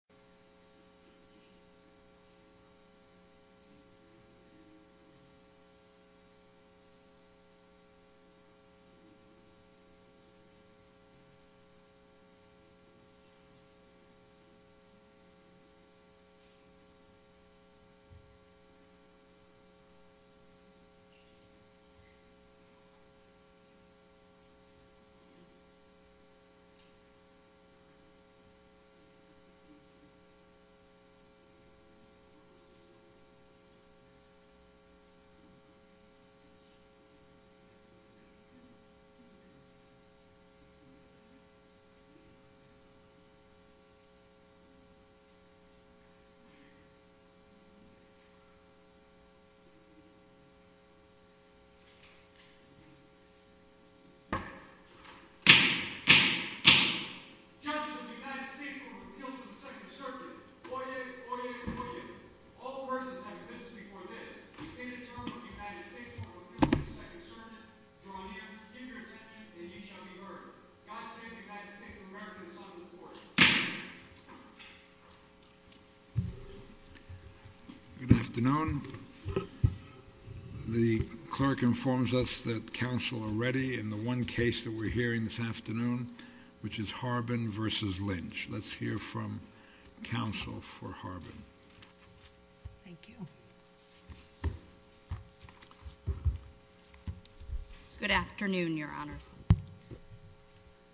,.,. Good afternoon, the clerk informs us that council are ready in the one case that we're hearing this afternoon, which is Mr. Harbin. Thank you. Good afternoon, your honors.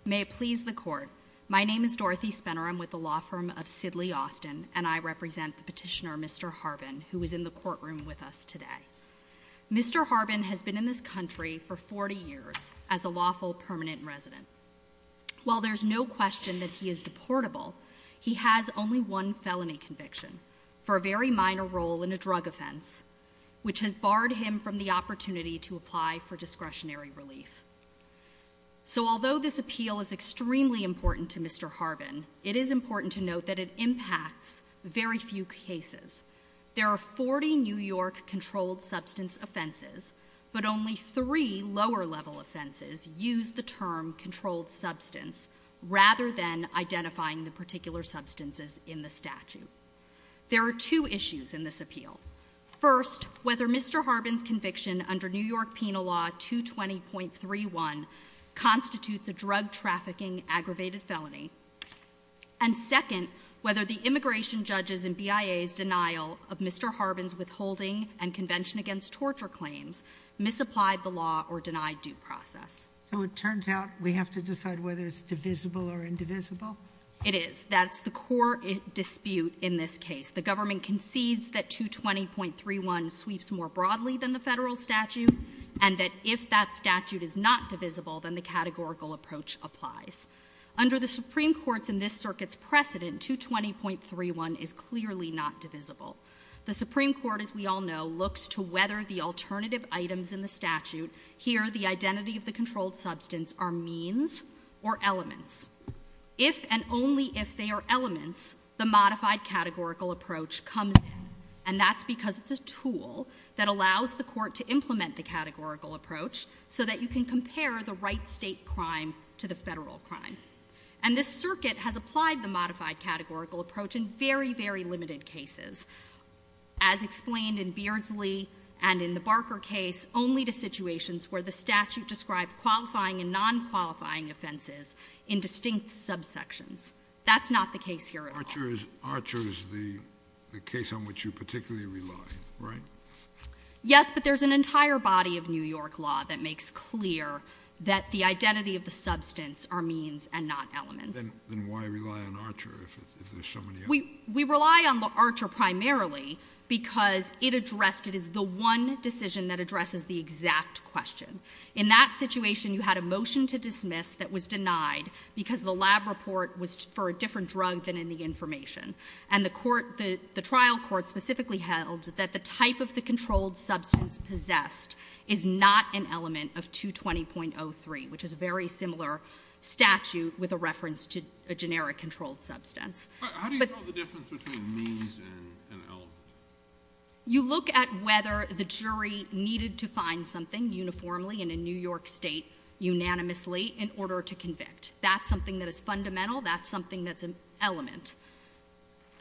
May it please the court. My name is Dorothy Spenner. I'm with the law firm of Sidley Austin, and I represent the petitioner Mr Harbin, who is in the courtroom with us today. Mr Harbin has been in this country for 40 years as a lawful permanent resident. While there's no question that he is deportable, he has only one felony conviction for a very minor role in a drug offense, which has barred him from the opportunity to apply for discretionary relief. So although this appeal is extremely important to Mr Harbin, it is important to note that it impacts very few cases. There are 40 New York controlled substance offenses, but only three lower level offenses use the identifying the particular substances in the statute. There are two issues in this appeal. First, whether Mr Harbin's conviction under New York Penal Law 220.31 constitutes a drug trafficking aggravated felony. And second, whether the immigration judges and BIA's denial of Mr Harbin's withholding and convention against torture claims misapplied the law or denied due process. So it turns out we have to decide whether it's divisible or not. It is. That's the core dispute in this case. The government concedes that 220.31 sweeps more broadly than the Federal statute, and that if that statute is not divisible, then the categorical approach applies. Under the Supreme Court's and this circuit's precedent, 220.31 is clearly not divisible. The Supreme Court, as we all know, looks to whether the alternative items in the statute, here the identity of the controlled substance, are means or elements. If and only if they are elements, the modified categorical approach comes in. And that's because it's a tool that allows the court to implement the categorical approach so that you can compare the right state crime to the Federal crime. And this circuit has applied the modified categorical approach in very, very limited cases. As explained in Beardsley and in the Barker case, only to situations where the statute described qualifying and non-qualifying offenses in distinct subsections. That's not the case here at all. Scalia. Archer is the case on which you particularly rely, right? Yes, but there's an entire body of New York law that makes clear that the identity of the substance are means and not elements. Then why rely on Archer if there's so many others? We rely on Archer primarily because it addressed, it is the one decision that addresses the exact question. In that situation, you had a motion to dismiss that was denied because the lab report was for a different drug than in the information. And the trial court specifically held that the type of the controlled substance possessed is not an element of 220.03, which is a very similar statute with a reference to a generic controlled substance. But how do you know the difference between means and element? You look at whether the jury needed to find something uniformly in a New York state unanimously in order to convict. That's something that is fundamental. That's something that's an element.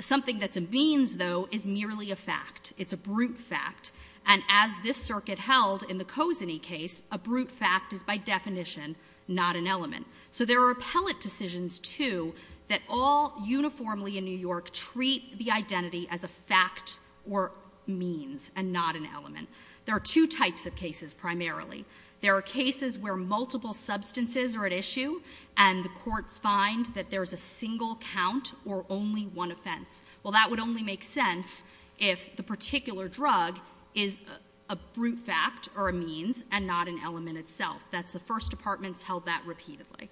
Something that's a means, though, is merely a fact. It's a brute fact. And as this circuit held in the Kozeny case, a brute fact is by definition not an element. So there are appellate decisions, too, that all uniformly in New York treat the substance or means and not an element. There are two types of cases primarily. There are cases where multiple substances are at issue and the courts find that there's a single count or only one offense. Well, that would only make sense if the particular drug is a brute fact or a means and not an element itself. That's the first department's held that repeatedly.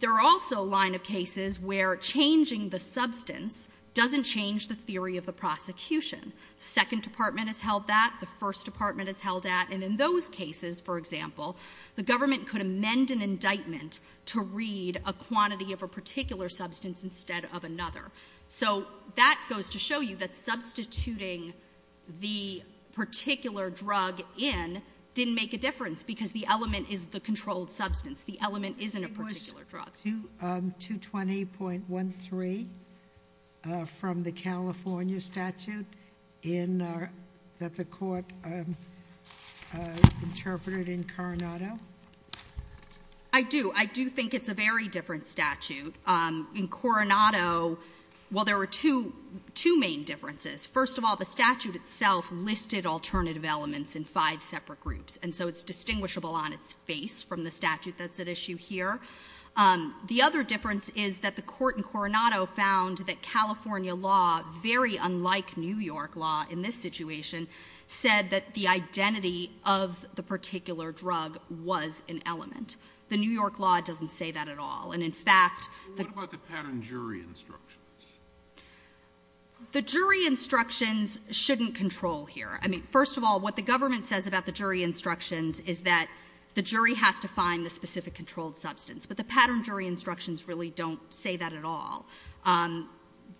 There are also a line of cases where changing the substance doesn't change the prosecution. Second department has held that. The first department has held that. And in those cases, for example, the government could amend an indictment to read a quantity of a particular substance instead of another. So that goes to show you that substituting the particular drug in didn't make a difference because the element is the controlled substance. The element isn't a particular drug. Do you have 220.13 from the California statute that the court interpreted in Coronado? I do. I do think it's a very different statute. In Coronado, well, there were two main differences. First of all, the statute itself listed alternative elements in five separate groups. And so it's distinguishable on its face from the statute that's at issue here. The other difference is that the court in Coronado found that California law, very unlike New York law in this situation, said that the identity of the particular drug was an element. The New York law doesn't say that at all. And, in fact, the What about the pattern jury instructions? The jury instructions shouldn't control here. I mean, first of all, what the government says about the jury instructions is that the jury has to find the specific controlled substance. But the pattern jury instructions really don't say that at all.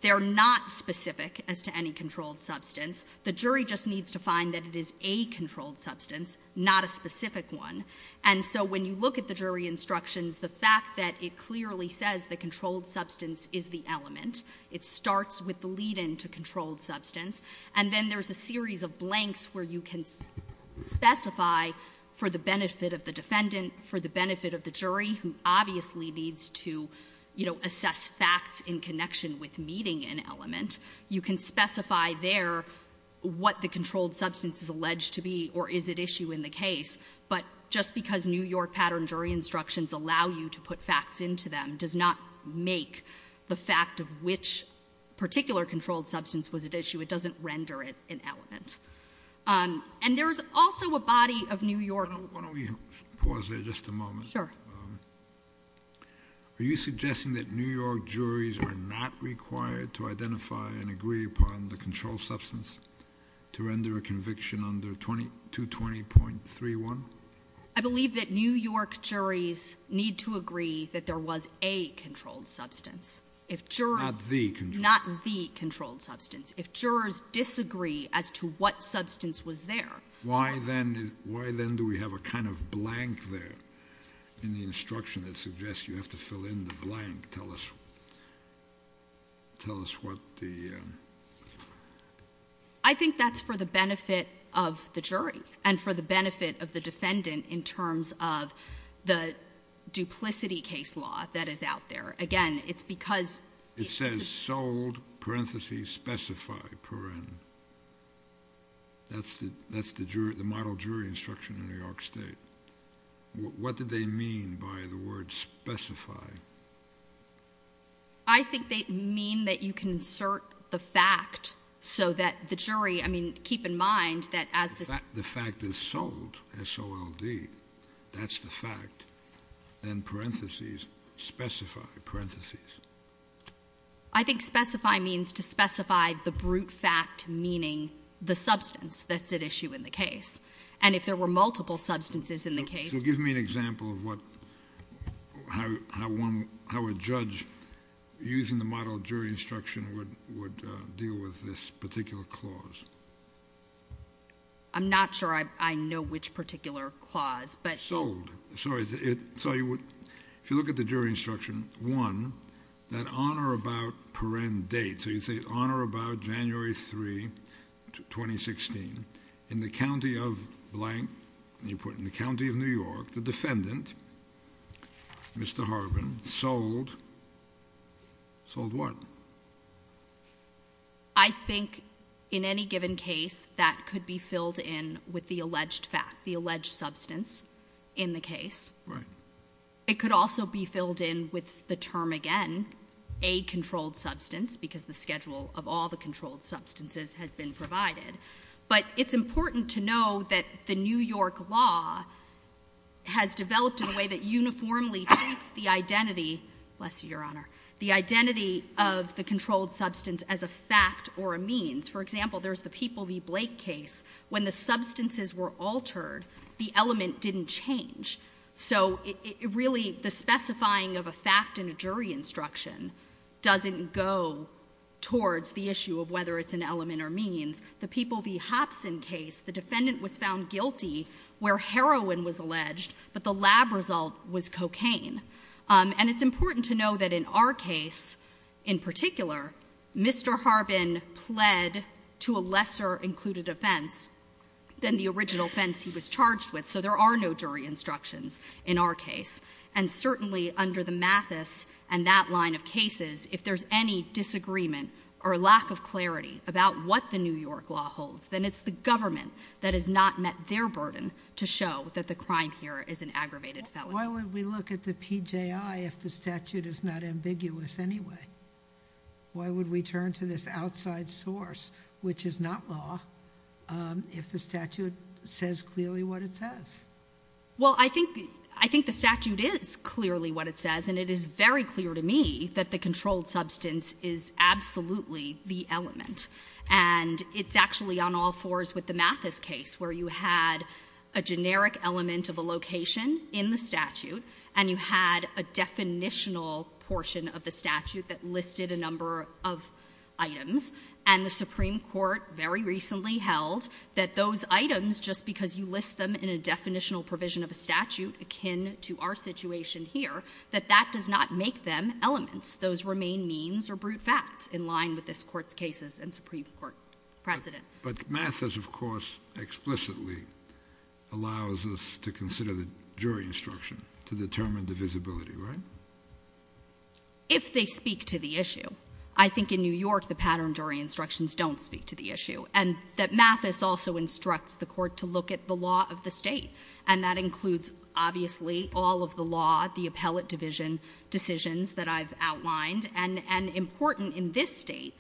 They're not specific as to any controlled substance. The jury just needs to find that it is a controlled substance, not a specific one. And so when you look at the jury instructions, the fact that it clearly says the controlled substance is the element, it starts with the lead-in to controlled substance, and then there's a series of blanks where you can specify for the benefit of the defendant, for the benefit of the jury, who obviously needs to, you know, assess facts in connection with meeting an element, you can specify there what the controlled substance is alleged to be or is at issue in the case. But just because New York pattern jury instructions allow you to put facts into them does not make the fact of which particular controlled substance was at issue. It doesn't render it an element. And there's also a body of New York... Why don't we pause there just a moment? Sure. Are you suggesting that New York juries are not required to identify and agree upon the controlled substance to render a conviction under 2220.31? I believe that New York juries need to agree that there was a controlled substance. If jurors... Not the controlled substance. Not the controlled substance. If jurors disagree as to what substance was there... Why then do we have a kind of blank there in the instruction that suggests you have to fill in the blank? Tell us what the... I think that's for the benefit of the jury and for the benefit of the defendant in terms of the duplicity case law that is out there. Again, it's because... It says sold, parentheses, specify, paren. That's the model jury instruction in New York State. What do they mean by the word specify? I think they mean that you can insert the fact so that the jury... I mean, keep in mind that as... The fact is sold, S-O-L-D. That's the fact. Then parentheses, specify, parentheses. I think specify means to specify the brute fact meaning the substance that's at issue in the case. And if there were multiple substances in the case... So give me an example of how a judge using the model jury instruction would deal with this particular clause. I'm not sure I know which particular clause, but... Sold. Sorry. If you look at the jury instruction, one, that on or about paren date. So you say on or about January 3, 2016, in the county of blank, and you put in the county of New York, the defendant, Mr. Harbin, sold. Sold what? I think in any given case, that could be filled in with the alleged fact, the alleged substance in the case. Right. It could also be filled in with the term again, a controlled substance, because the schedule of all the controlled substances has been provided. But it's important to know that the New York law has developed in a way that uniformly treats the identity... Of the controlled substance as a fact or a means. For example, there's the People v. Blake case. When the substances were altered, the element didn't change. So really, the specifying of a fact in a jury instruction doesn't go towards the issue of whether it's an element or means. The People v. Hopson case, the defendant was found guilty where heroin was alleged, but the lab result was cocaine. And it's important to know that in our case, in particular, Mr. Harbin pled to a lesser included offense than the original offense he was charged with. So there are no jury instructions in our case. And certainly, under the Mathis and that line of cases, if there's any disagreement or lack of clarity about what the New York law holds, then it's the government that has not met their burden to show that the crime here is an aggravated felony. Why would we look at the PJI if the statute is not ambiguous anyway? Why would we turn to this outside source, which is not law, if the statute says clearly what it says? Well, I think the statute is clearly what it says. And it is very clear to me that the controlled substance is absolutely the element. And it's actually on all fours with the Mathis case, where you had a generic element of a location in the statute, and you had a definitional portion of the statute that listed a number of items, and the Supreme Court very recently held that those items, just because you list them in a definitional provision of a statute akin to our situation here, that that does not make them elements. Those remain means or brute facts in line with this Court's cases and Supreme Court precedent. But Mathis, of course, explicitly allows us to consider the jury instruction to determine divisibility, right? If they speak to the issue. I think in New York, the pattern jury instructions don't speak to the issue. And that Mathis also instructs the court to look at the law of the state. And that includes, obviously, all of the law, the appellate division decisions that I've outlined. And important in this state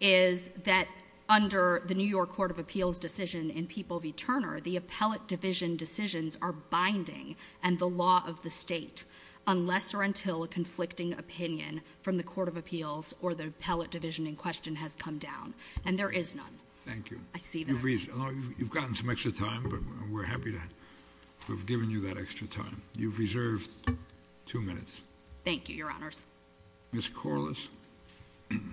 is that under the New York Court of Appeals decision in Peeple v. Turner, the appellate division decisions are binding and the law of the state, unless or until a conflicting opinion from the Court of Appeals or the appellate division in question has come down. And there is none. Thank you. I see that. You've gotten some extra time, but we're happy to have given you that extra time. You've reserved two minutes. Thank you, Your Honors. Ms. Corliss. Can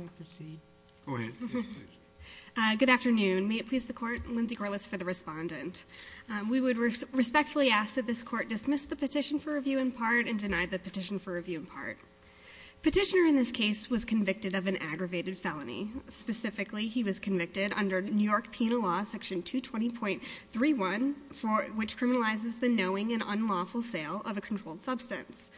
I proceed? Go ahead. Good afternoon. May it please the Court, Lindsay Corliss for the respondent. We would respectfully ask that this Court dismiss the petition for review in part and deny the petition for review in part. Petitioner in this case was convicted of an aggravated felony. Specifically, he was convicted under New York Penal Law, Section 220.31, which criminalizes the knowing and unlawful sale of a controlled substance.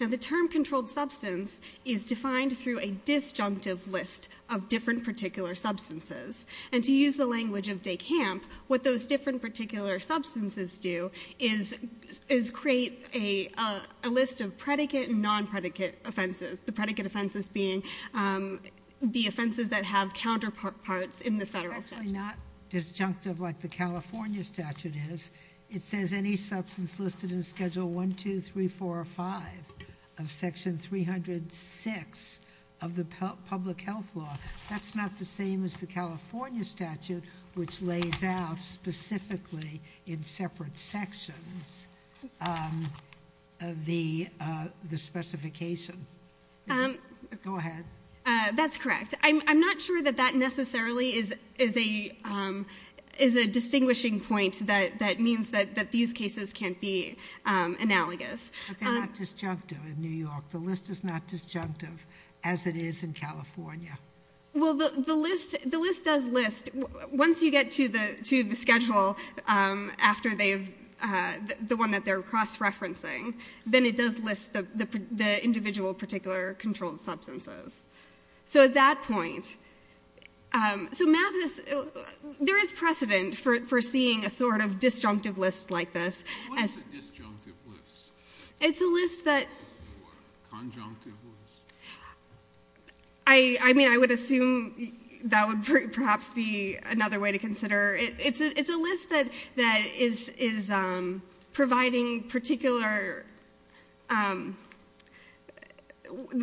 Now, the term controlled substance is defined through a disjunctive list of different particular substances. And to use the language of DeCamp, what those different particular substances do is create a list of predicate and non-predicate offenses, the predicate offenses being the offenses that have counterparts in the federal statute. It's actually not disjunctive like the California statute is. It says any substance listed in Schedule 1, 2, 3, 4, or 5 of Section 306 of the public health law. That's not the same as the California statute, which lays out specifically in separate sections the specification. Go ahead. That's correct. I'm not sure that that necessarily is a distinguishing point that means that these cases can't be analogous. But they're not disjunctive in New York. The list is not disjunctive as it is in California. Well, the list does list. Once you get to the schedule after the one that they're cross-referencing, then it does list the individual particular controlled substances. So at that point, so Mathis, there is precedent for seeing a sort of disjunctive list like this. What is a disjunctive list? It's a list that... Conjunctive list. I mean, I would assume that would perhaps be another way to consider. It's a list that is providing particular,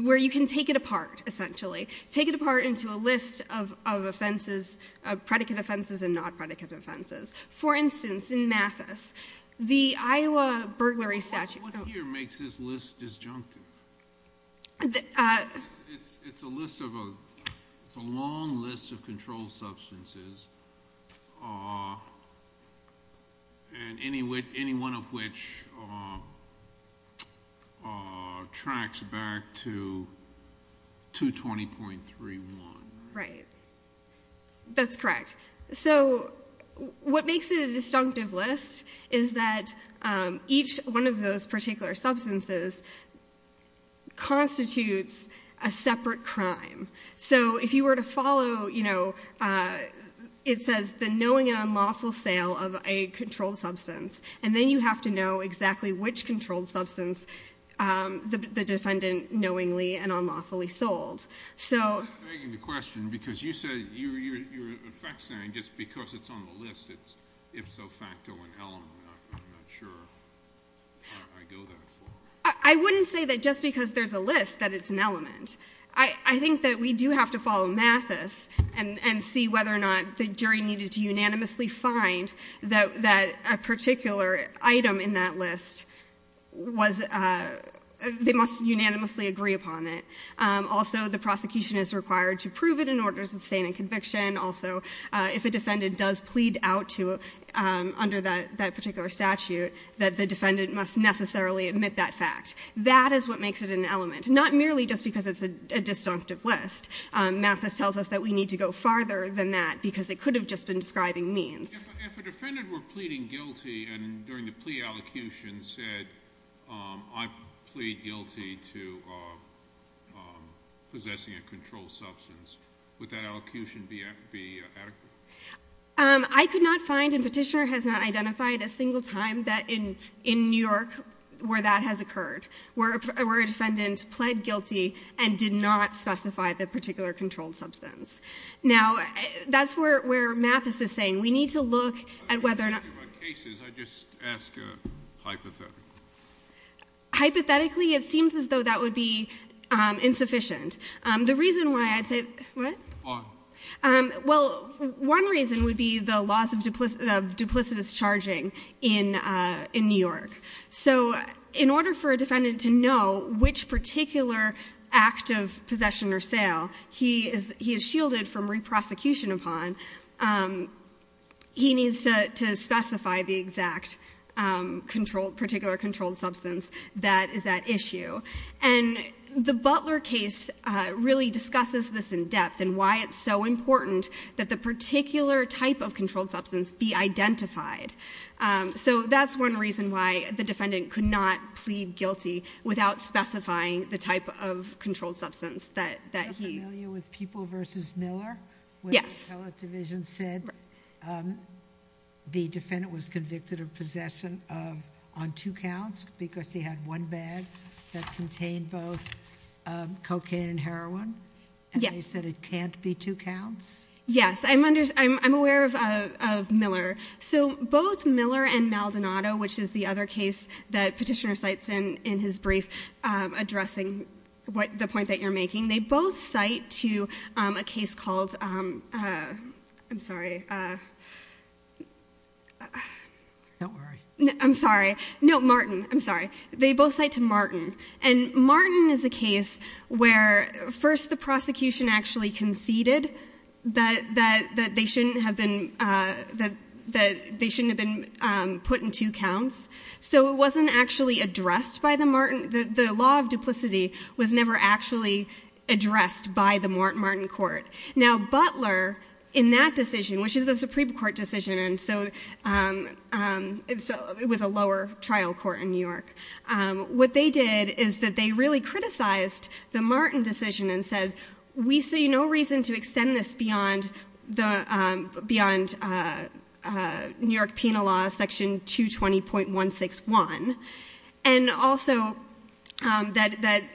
where you can take it apart, essentially. Take it apart into a list of offenses, predicate offenses and non-predicate offenses. For instance, in Mathis, the Iowa burglary statute... What here makes this list disjunctive? It's a long list of controlled substances, and any one of which tracks back to 220.31. Right. That's correct. So what makes it a disjunctive list is that each one of those particular substances constitutes a separate crime. So if you were to follow, you know, it says the knowing and unlawful sale of a controlled substance, and then you have to know exactly which controlled substance the defendant knowingly and unlawfully sold. I'm begging the question, because you said you're, in fact, saying just because it's on the list, it's ipso facto an element. I'm not sure how I go that far. I wouldn't say that just because there's a list that it's an element. I think that we do have to follow Mathis and see whether or not the jury needed to unanimously find that a particular item in that list was, they must unanimously agree upon it. Also, the prosecution is required to prove it in order to sustain a conviction. Also, if a defendant does plead out under that particular statute, that the defendant must necessarily admit that fact. That is what makes it an element, not merely just because it's a disjunctive list. Mathis tells us that we need to go farther than that, because it could have just been describing means. If a defendant were pleading guilty and during the plea allocution said, I plead guilty to possessing a controlled substance, would that allocution be adequate? I could not find and Petitioner has not identified a single time that in New York where that has occurred, where a defendant pled guilty and did not specify the particular controlled substance. Now, that's where Mathis is saying, we need to look at whether or not- I'm not asking about cases, I just ask hypothetically. Hypothetically, it seems as though that would be insufficient. The reason why I'd say- On. Well, one reason would be the loss of duplicitous charging in New York. In order for a defendant to know which particular act of possession or sale he is shielded from re-prosecution upon, he needs to specify the exact particular controlled substance that is at issue. The Butler case really discusses this in depth and why it's so important that the particular type of controlled substance be identified. That's one reason why the defendant could not plead guilty without specifying the type of controlled substance that he- Are you familiar with People v. Miller? Yes. When the appellate division said the defendant was convicted of possession on two counts because he had one bag that contained both cocaine and heroin? And they said it can't be two counts? Yes, I'm aware of Miller. So both Miller and Maldonado, which is the other case that Petitioner cites in his brief addressing the point that you're making, they both cite to a case called- I'm sorry. Don't worry. I'm sorry. They both cite to Martin. And Martin is a case where first the prosecution actually conceded that they shouldn't have been put in two counts. So it wasn't actually addressed by the Martin- The law of duplicity was never actually addressed by the Martin Court. Now Butler, in that decision, which is a Supreme Court decision, and so it was a lower trial court in New York, what they did is that they really criticized the Martin decision and said, we see no reason to extend this beyond New York Penal Law section 220.161, and also that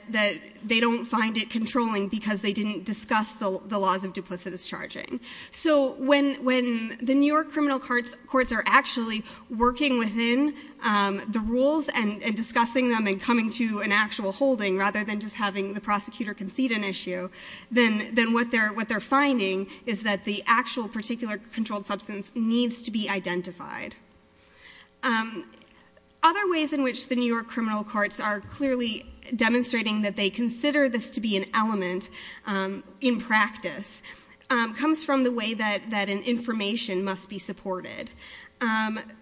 they don't find it controlling because they didn't discuss the laws of duplicitous charging. So when the New York criminal courts are actually working within the rules and discussing them and coming to an actual holding, rather than just having the prosecutor concede an issue, then what they're finding is that the actual particular controlled substance needs to be identified. Other ways in which the New York criminal courts are clearly demonstrating that they consider this to be an element in practice comes from the way that an information must be supported.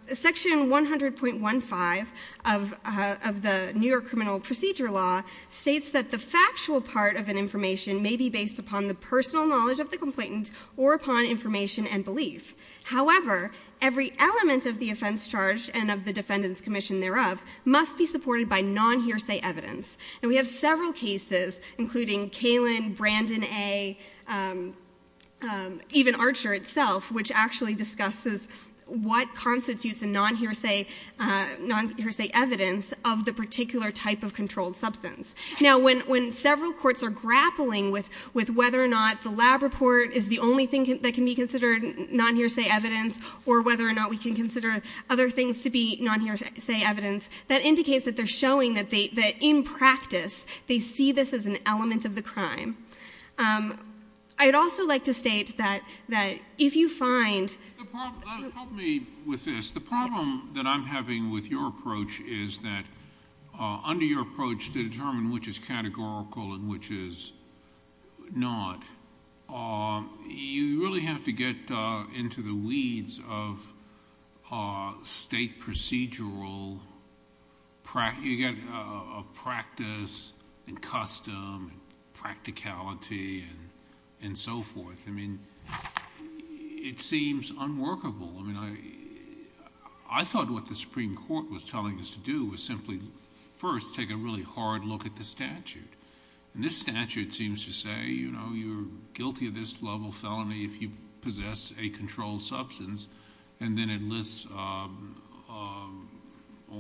Section 100.15 of the New York Criminal Procedure Law states that the factual part of an information may be based upon the personal knowledge of the complainant or upon information and belief. However, every element of the offense charged and of the defendant's commission thereof must be supported by non-hearsay evidence. And we have several cases, including Kalin, Brandon A., even Archer itself, which actually discusses what constitutes a non-hearsay evidence of the particular type of controlled substance. Now, when several courts are grappling with whether or not the lab report is the only thing that can be considered non-hearsay evidence or whether or not we can consider other things to be non-hearsay evidence, that indicates that they're showing that in practice they see this as an element of the crime. I'd also like to state that if you find... Help me with this. The problem that I'm having with your approach is that under your approach to determine which is categorical and which is not, you really have to get into the weeds of state procedural practice and custom and practicality and so forth. I mean, it seems unworkable. I mean, I thought what the Supreme Court was telling us to do was simply first take a really hard look at the statute. And this statute seems to say, you know, you're guilty of this level felony if you possess a controlled substance, and then it lists all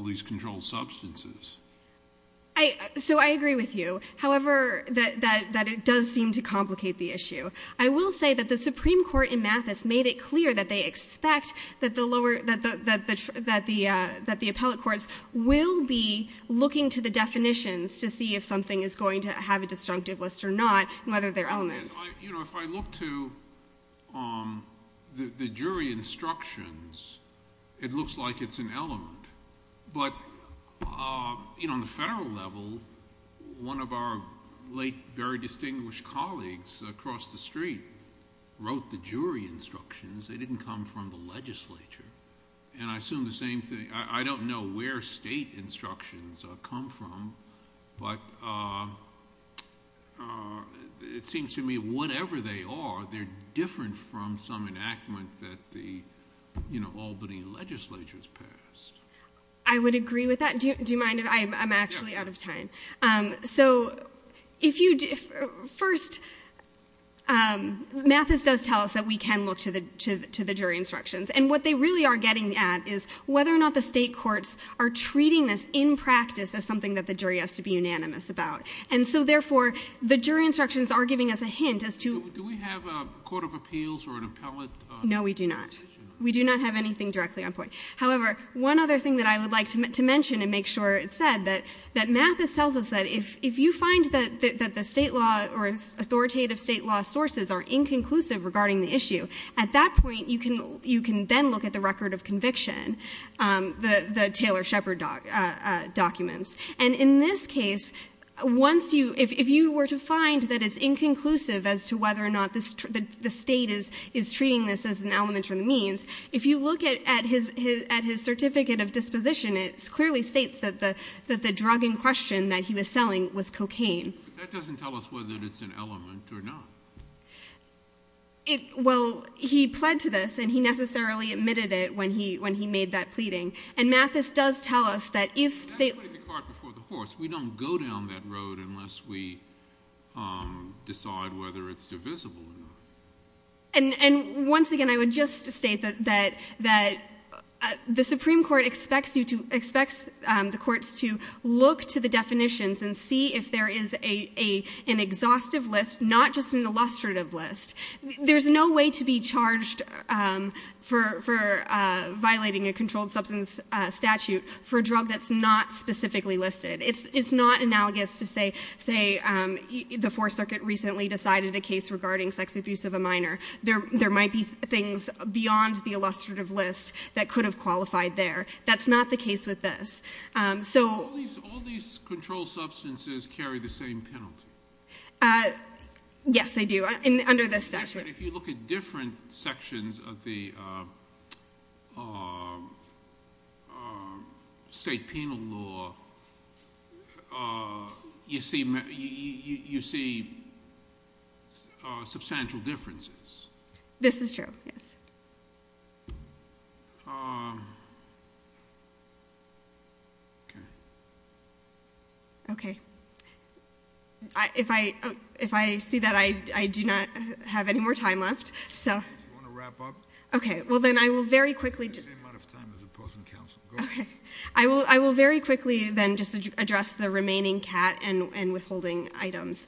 these controlled substances. So I agree with you, however, that it does seem to complicate the issue. I will say that the Supreme Court in Mathis made it clear that they expect that the lower... going to have a disjunctive list or not and whether they're elements. You know, if I look to the jury instructions, it looks like it's an element. But, you know, on the federal level, one of our late, very distinguished colleagues across the street wrote the jury instructions. And I assume the same thing. I don't know where state instructions come from, but it seems to me whatever they are, they're different from some enactment that the, you know, Albany legislature has passed. I would agree with that. Do you mind if I... I'm actually out of time. So if you... First, Mathis does tell us that we can look to the jury instructions, and what they really are getting at is whether or not the state courts are treating this in practice as something that the jury has to be unanimous about. And so, therefore, the jury instructions are giving us a hint as to... Do we have a court of appeals or an appellate? No, we do not. We do not have anything directly on point. However, one other thing that I would like to mention and make sure it's said, that Mathis tells us that if you find that the state law or authoritative state law sources are inconclusive regarding the issue, at that point you can then look at the record of conviction, the Taylor-Shepard documents. And in this case, once you... If you were to find that it's inconclusive as to whether or not the state is treating this as an element from the means, if you look at his certificate of disposition, it clearly states that the drug in question that he was selling was cocaine. But that doesn't tell us whether it's an element or not. Well, he pled to this, and he necessarily admitted it when he made that pleading. And Mathis does tell us that if... That's putting the cart before the horse. We don't go down that road unless we decide whether it's divisible or not. And once again, I would just state that the Supreme Court expects the courts to look to the definitions and see if there is an exhaustive list, not just an illustrative list. There's no way to be charged for violating a controlled substance statute for a drug that's not specifically listed. It's not analogous to, say, the Fourth Circuit recently decided a case regarding sex abuse of a minor. There might be things beyond the illustrative list that could have qualified there. That's not the case with this. So... All these controlled substances carry the same penalty. Yes, they do, under this statute. But if you look at different sections of the state penal law, you see substantial differences. This is true, yes. Okay. If I see that, I do not have any more time left. Do you want to wrap up? Okay. Well, then I will very quickly... You have the same amount of time as opposing counsel. Okay. I will very quickly then just address the remaining cat and withholding items.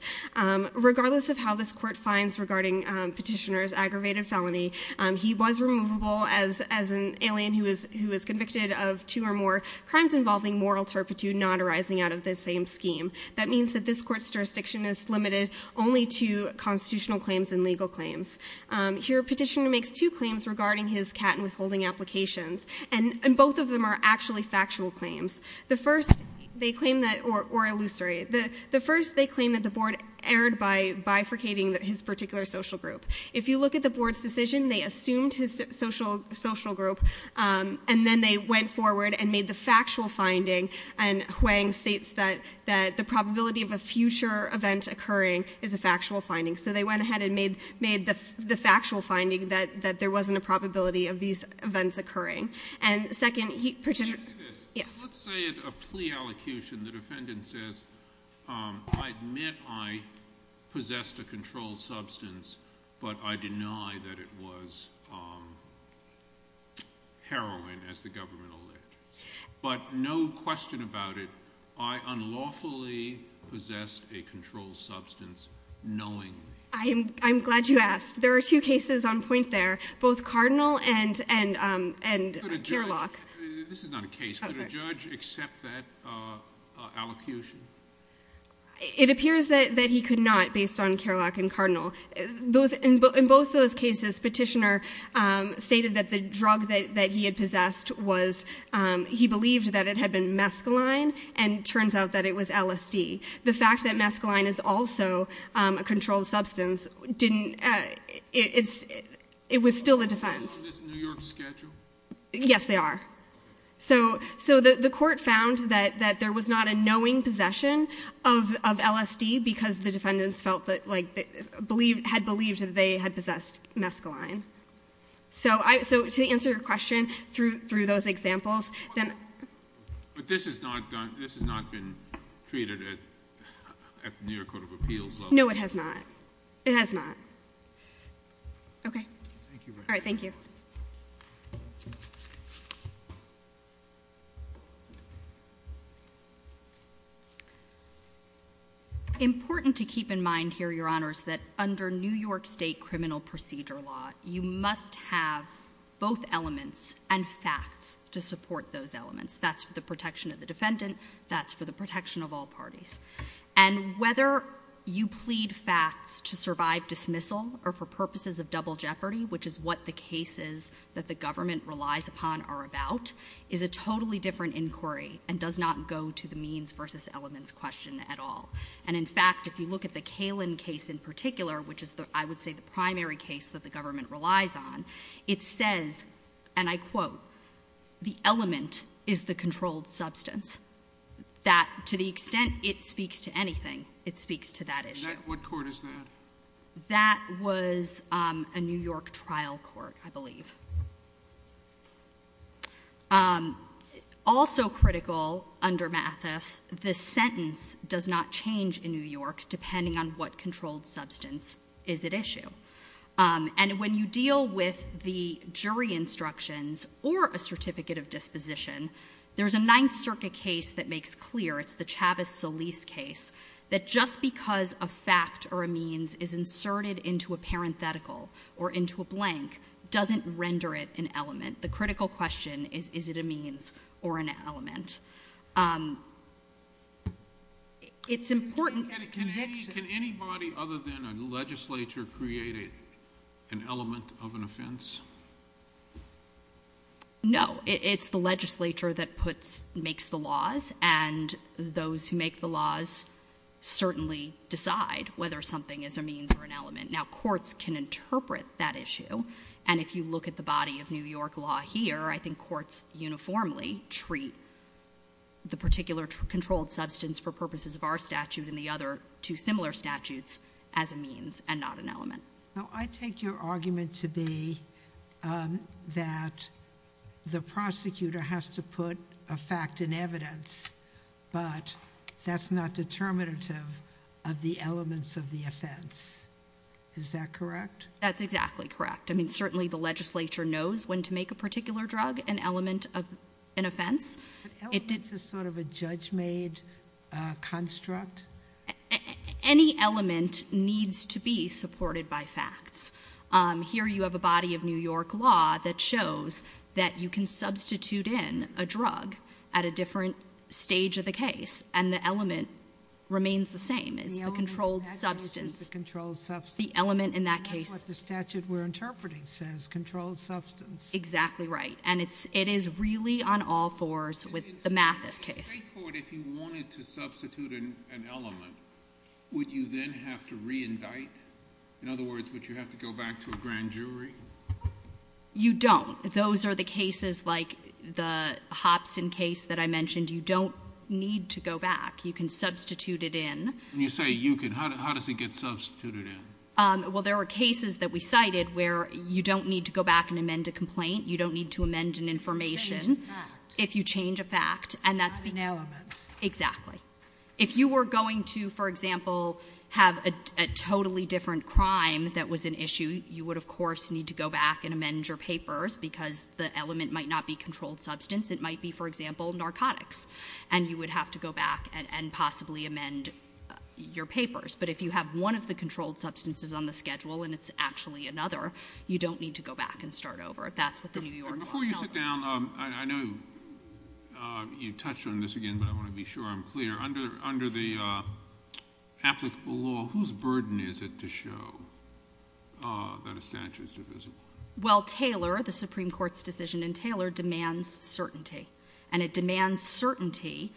Regardless of how this court finds regarding Petitioner's aggravated felony, he was removable as an alien who was convicted of two or more crimes involving moral turpitude not arising out of the same scheme. That means that this court's jurisdiction is limited only to constitutional claims and legal claims. Here, Petitioner makes two claims regarding his cat and withholding applications, and both of them are actually factual claims. The first, they claim that... Or illusory. The first, they claim that the board erred by bifurcating his particular social group. If you look at the board's decision, they assumed his social group, and then they went forward and made the factual finding, and Huang states that the probability of a future event occurring is a factual finding. So they went ahead and made the factual finding that there wasn't a probability of these events occurring. And second, Petitioner... Let me say this. Yes. I admit I possessed a controlled substance, but I deny that it was heroin, as the government alleged. But no question about it, I unlawfully possessed a controlled substance knowingly. I'm glad you asked. There are two cases on point there, both Cardinal and Kerlock. This is not a case. Could a judge accept that allocution? It appears that he could not, based on Kerlock and Cardinal. In both those cases, Petitioner stated that the drug that he had possessed was... He believed that it had been mescaline, and it turns out that it was LSD. The fact that mescaline is also a controlled substance didn't... It was still a defense. Is this a New York schedule? Yes, they are. So the court found that there was not a knowing possession of LSD, because the defendants had believed that they had possessed mescaline. So to answer your question through those examples... But this has not been treated at the New York Court of Appeals level. No, it has not. It has not. Okay. Thank you very much. All right, thank you. Important to keep in mind here, Your Honors, that under New York State criminal procedure law, you must have both elements and facts to support those elements. That's for the protection of the defendant. That's for the protection of all parties. And whether you plead facts to survive dismissal or for purposes of double jeopardy, which is what the cases that the government relies upon are about, is a totally different inquiry and does not go to the means versus elements question at all. And, in fact, if you look at the Kalin case in particular, which is, I would say, the primary case that the government relies on, it says, and I quote, the element is the controlled substance. That, to the extent it speaks to anything, it speaks to that issue. What court is that? That was a New York trial court, I believe. Also critical under Mathis, the sentence does not change in New York depending on what controlled substance is at issue. And when you deal with the jury instructions or a certificate of disposition, there's a Ninth Circuit case that makes clear, it's the Chavez-Solis case, that just because a fact or a means is inserted into a parenthetical or into a blank doesn't render it an element. The critical question is, is it a means or an element? It's important. Can anybody other than a legislature create an element of an offense? No. It's the legislature that makes the laws, and those who make the laws certainly decide whether something is a means or an element. Now, courts can interpret that issue, and if you look at the body of New York law here, I think courts uniformly treat the particular controlled substance for purposes of our statute and the other two similar statutes as a means and not an element. Now, I take your argument to be that the prosecutor has to put a fact in evidence, but that's not determinative of the elements of the offense. Is that correct? That's exactly correct. I mean, certainly the legislature knows when to make a particular drug an element of an offense. But elements is sort of a judge-made construct. Any element needs to be supported by facts. Here you have a body of New York law that shows that you can substitute in a drug at a different stage of the case, and the element remains the same. It's the controlled substance. The element in that case is the controlled substance. Exactly right. And it is really on all fours with the Mathis case. You don't. Those are the cases like the Hopson case that I mentioned. You don't need to go back. You can substitute it in. When you say you can, how does it get substituted in? Well, there are cases that we cited where you don't need to go back and amend a complaint. You don't need to amend an information if you change a fact. Not an element. Exactly. If you were going to, for example, have a totally different crime that was an issue, you would, of course, need to go back and amend your papers because the element might not be controlled substance. It might be, for example, narcotics, and you would have to go back and possibly amend your papers. But if you have one of the controlled substances on the schedule and it's actually another, you don't need to go back and start over. That's what the New York law tells us. Before you sit down, I know you touched on this again, but I want to be sure I'm clear. Under the applicable law, whose burden is it to show that a statute is divisible? Well, Taylor, the Supreme Court's decision in Taylor, demands certainty. And it demands certainty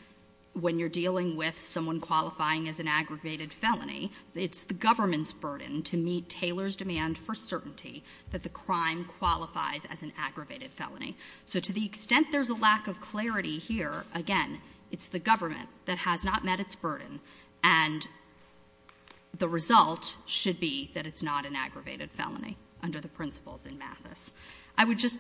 when you're dealing with someone qualifying as an aggravated felony. It's the government's burden to meet Taylor's demand for certainty that the crime qualifies as an aggravated felony. So to the extent there's a lack of clarity here, again, it's the government that has not met its burden, and the result should be that it's not an aggravated felony under the principles in Mathis. I would just,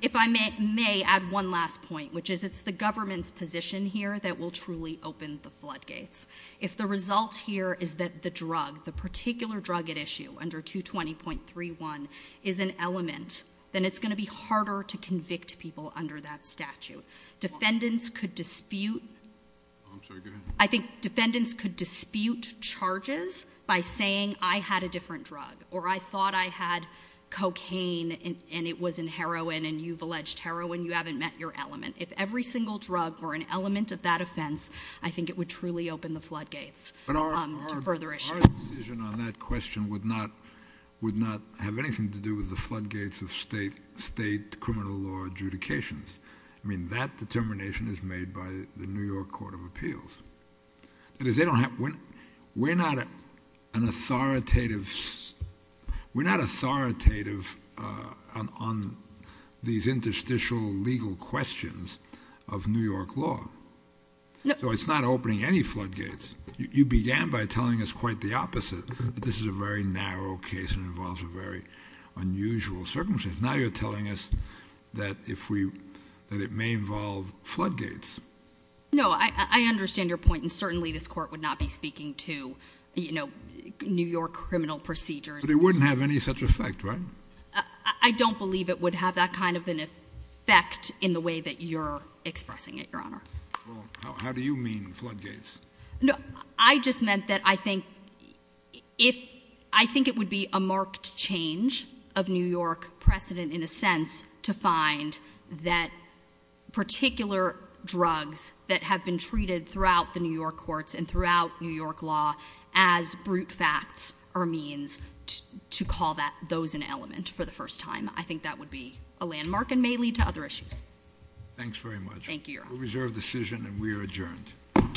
if I may, add one last point, which is it's the government's position here that will truly open the floodgates. If the result here is that the drug, the particular drug at issue, under 220.31, is an element, then it's going to be harder to convict people under that statute. Defendants could dispute... I'm sorry, go ahead. I think defendants could dispute charges by saying I had a different drug or I thought I had cocaine and it was in heroin and you've alleged heroin, you haven't met your element. If every single drug were an element of that offence, I think it would truly open the floodgates to further issues. But our decision on that question would not have anything to do with the floodgates of state criminal law adjudications. I mean, that determination is made by the New York Court of Appeals. That is, they don't have... We're not an authoritative... ...these interstitial legal questions of New York law. So it's not opening any floodgates. You began by telling us quite the opposite, that this is a very narrow case and involves a very unusual circumstance. Now you're telling us that it may involve floodgates. No, I understand your point and certainly this court would not be speaking to, you know, New York criminal procedures. But it wouldn't have any such effect, right? I don't believe it would have that kind of an effect in the way that you're expressing it, Your Honour. Well, how do you mean, floodgates? No, I just meant that I think if... I think it would be a marked change of New York precedent, in a sense, to find that particular drugs that have been treated throughout the New York courts and throughout New York law as brute facts or means to call those an element for the first time. I think that would be a landmark and may lead to other issues. Thanks very much. Thank you, Your Honour. We'll reserve the decision and we are adjourned. Court is adjourned.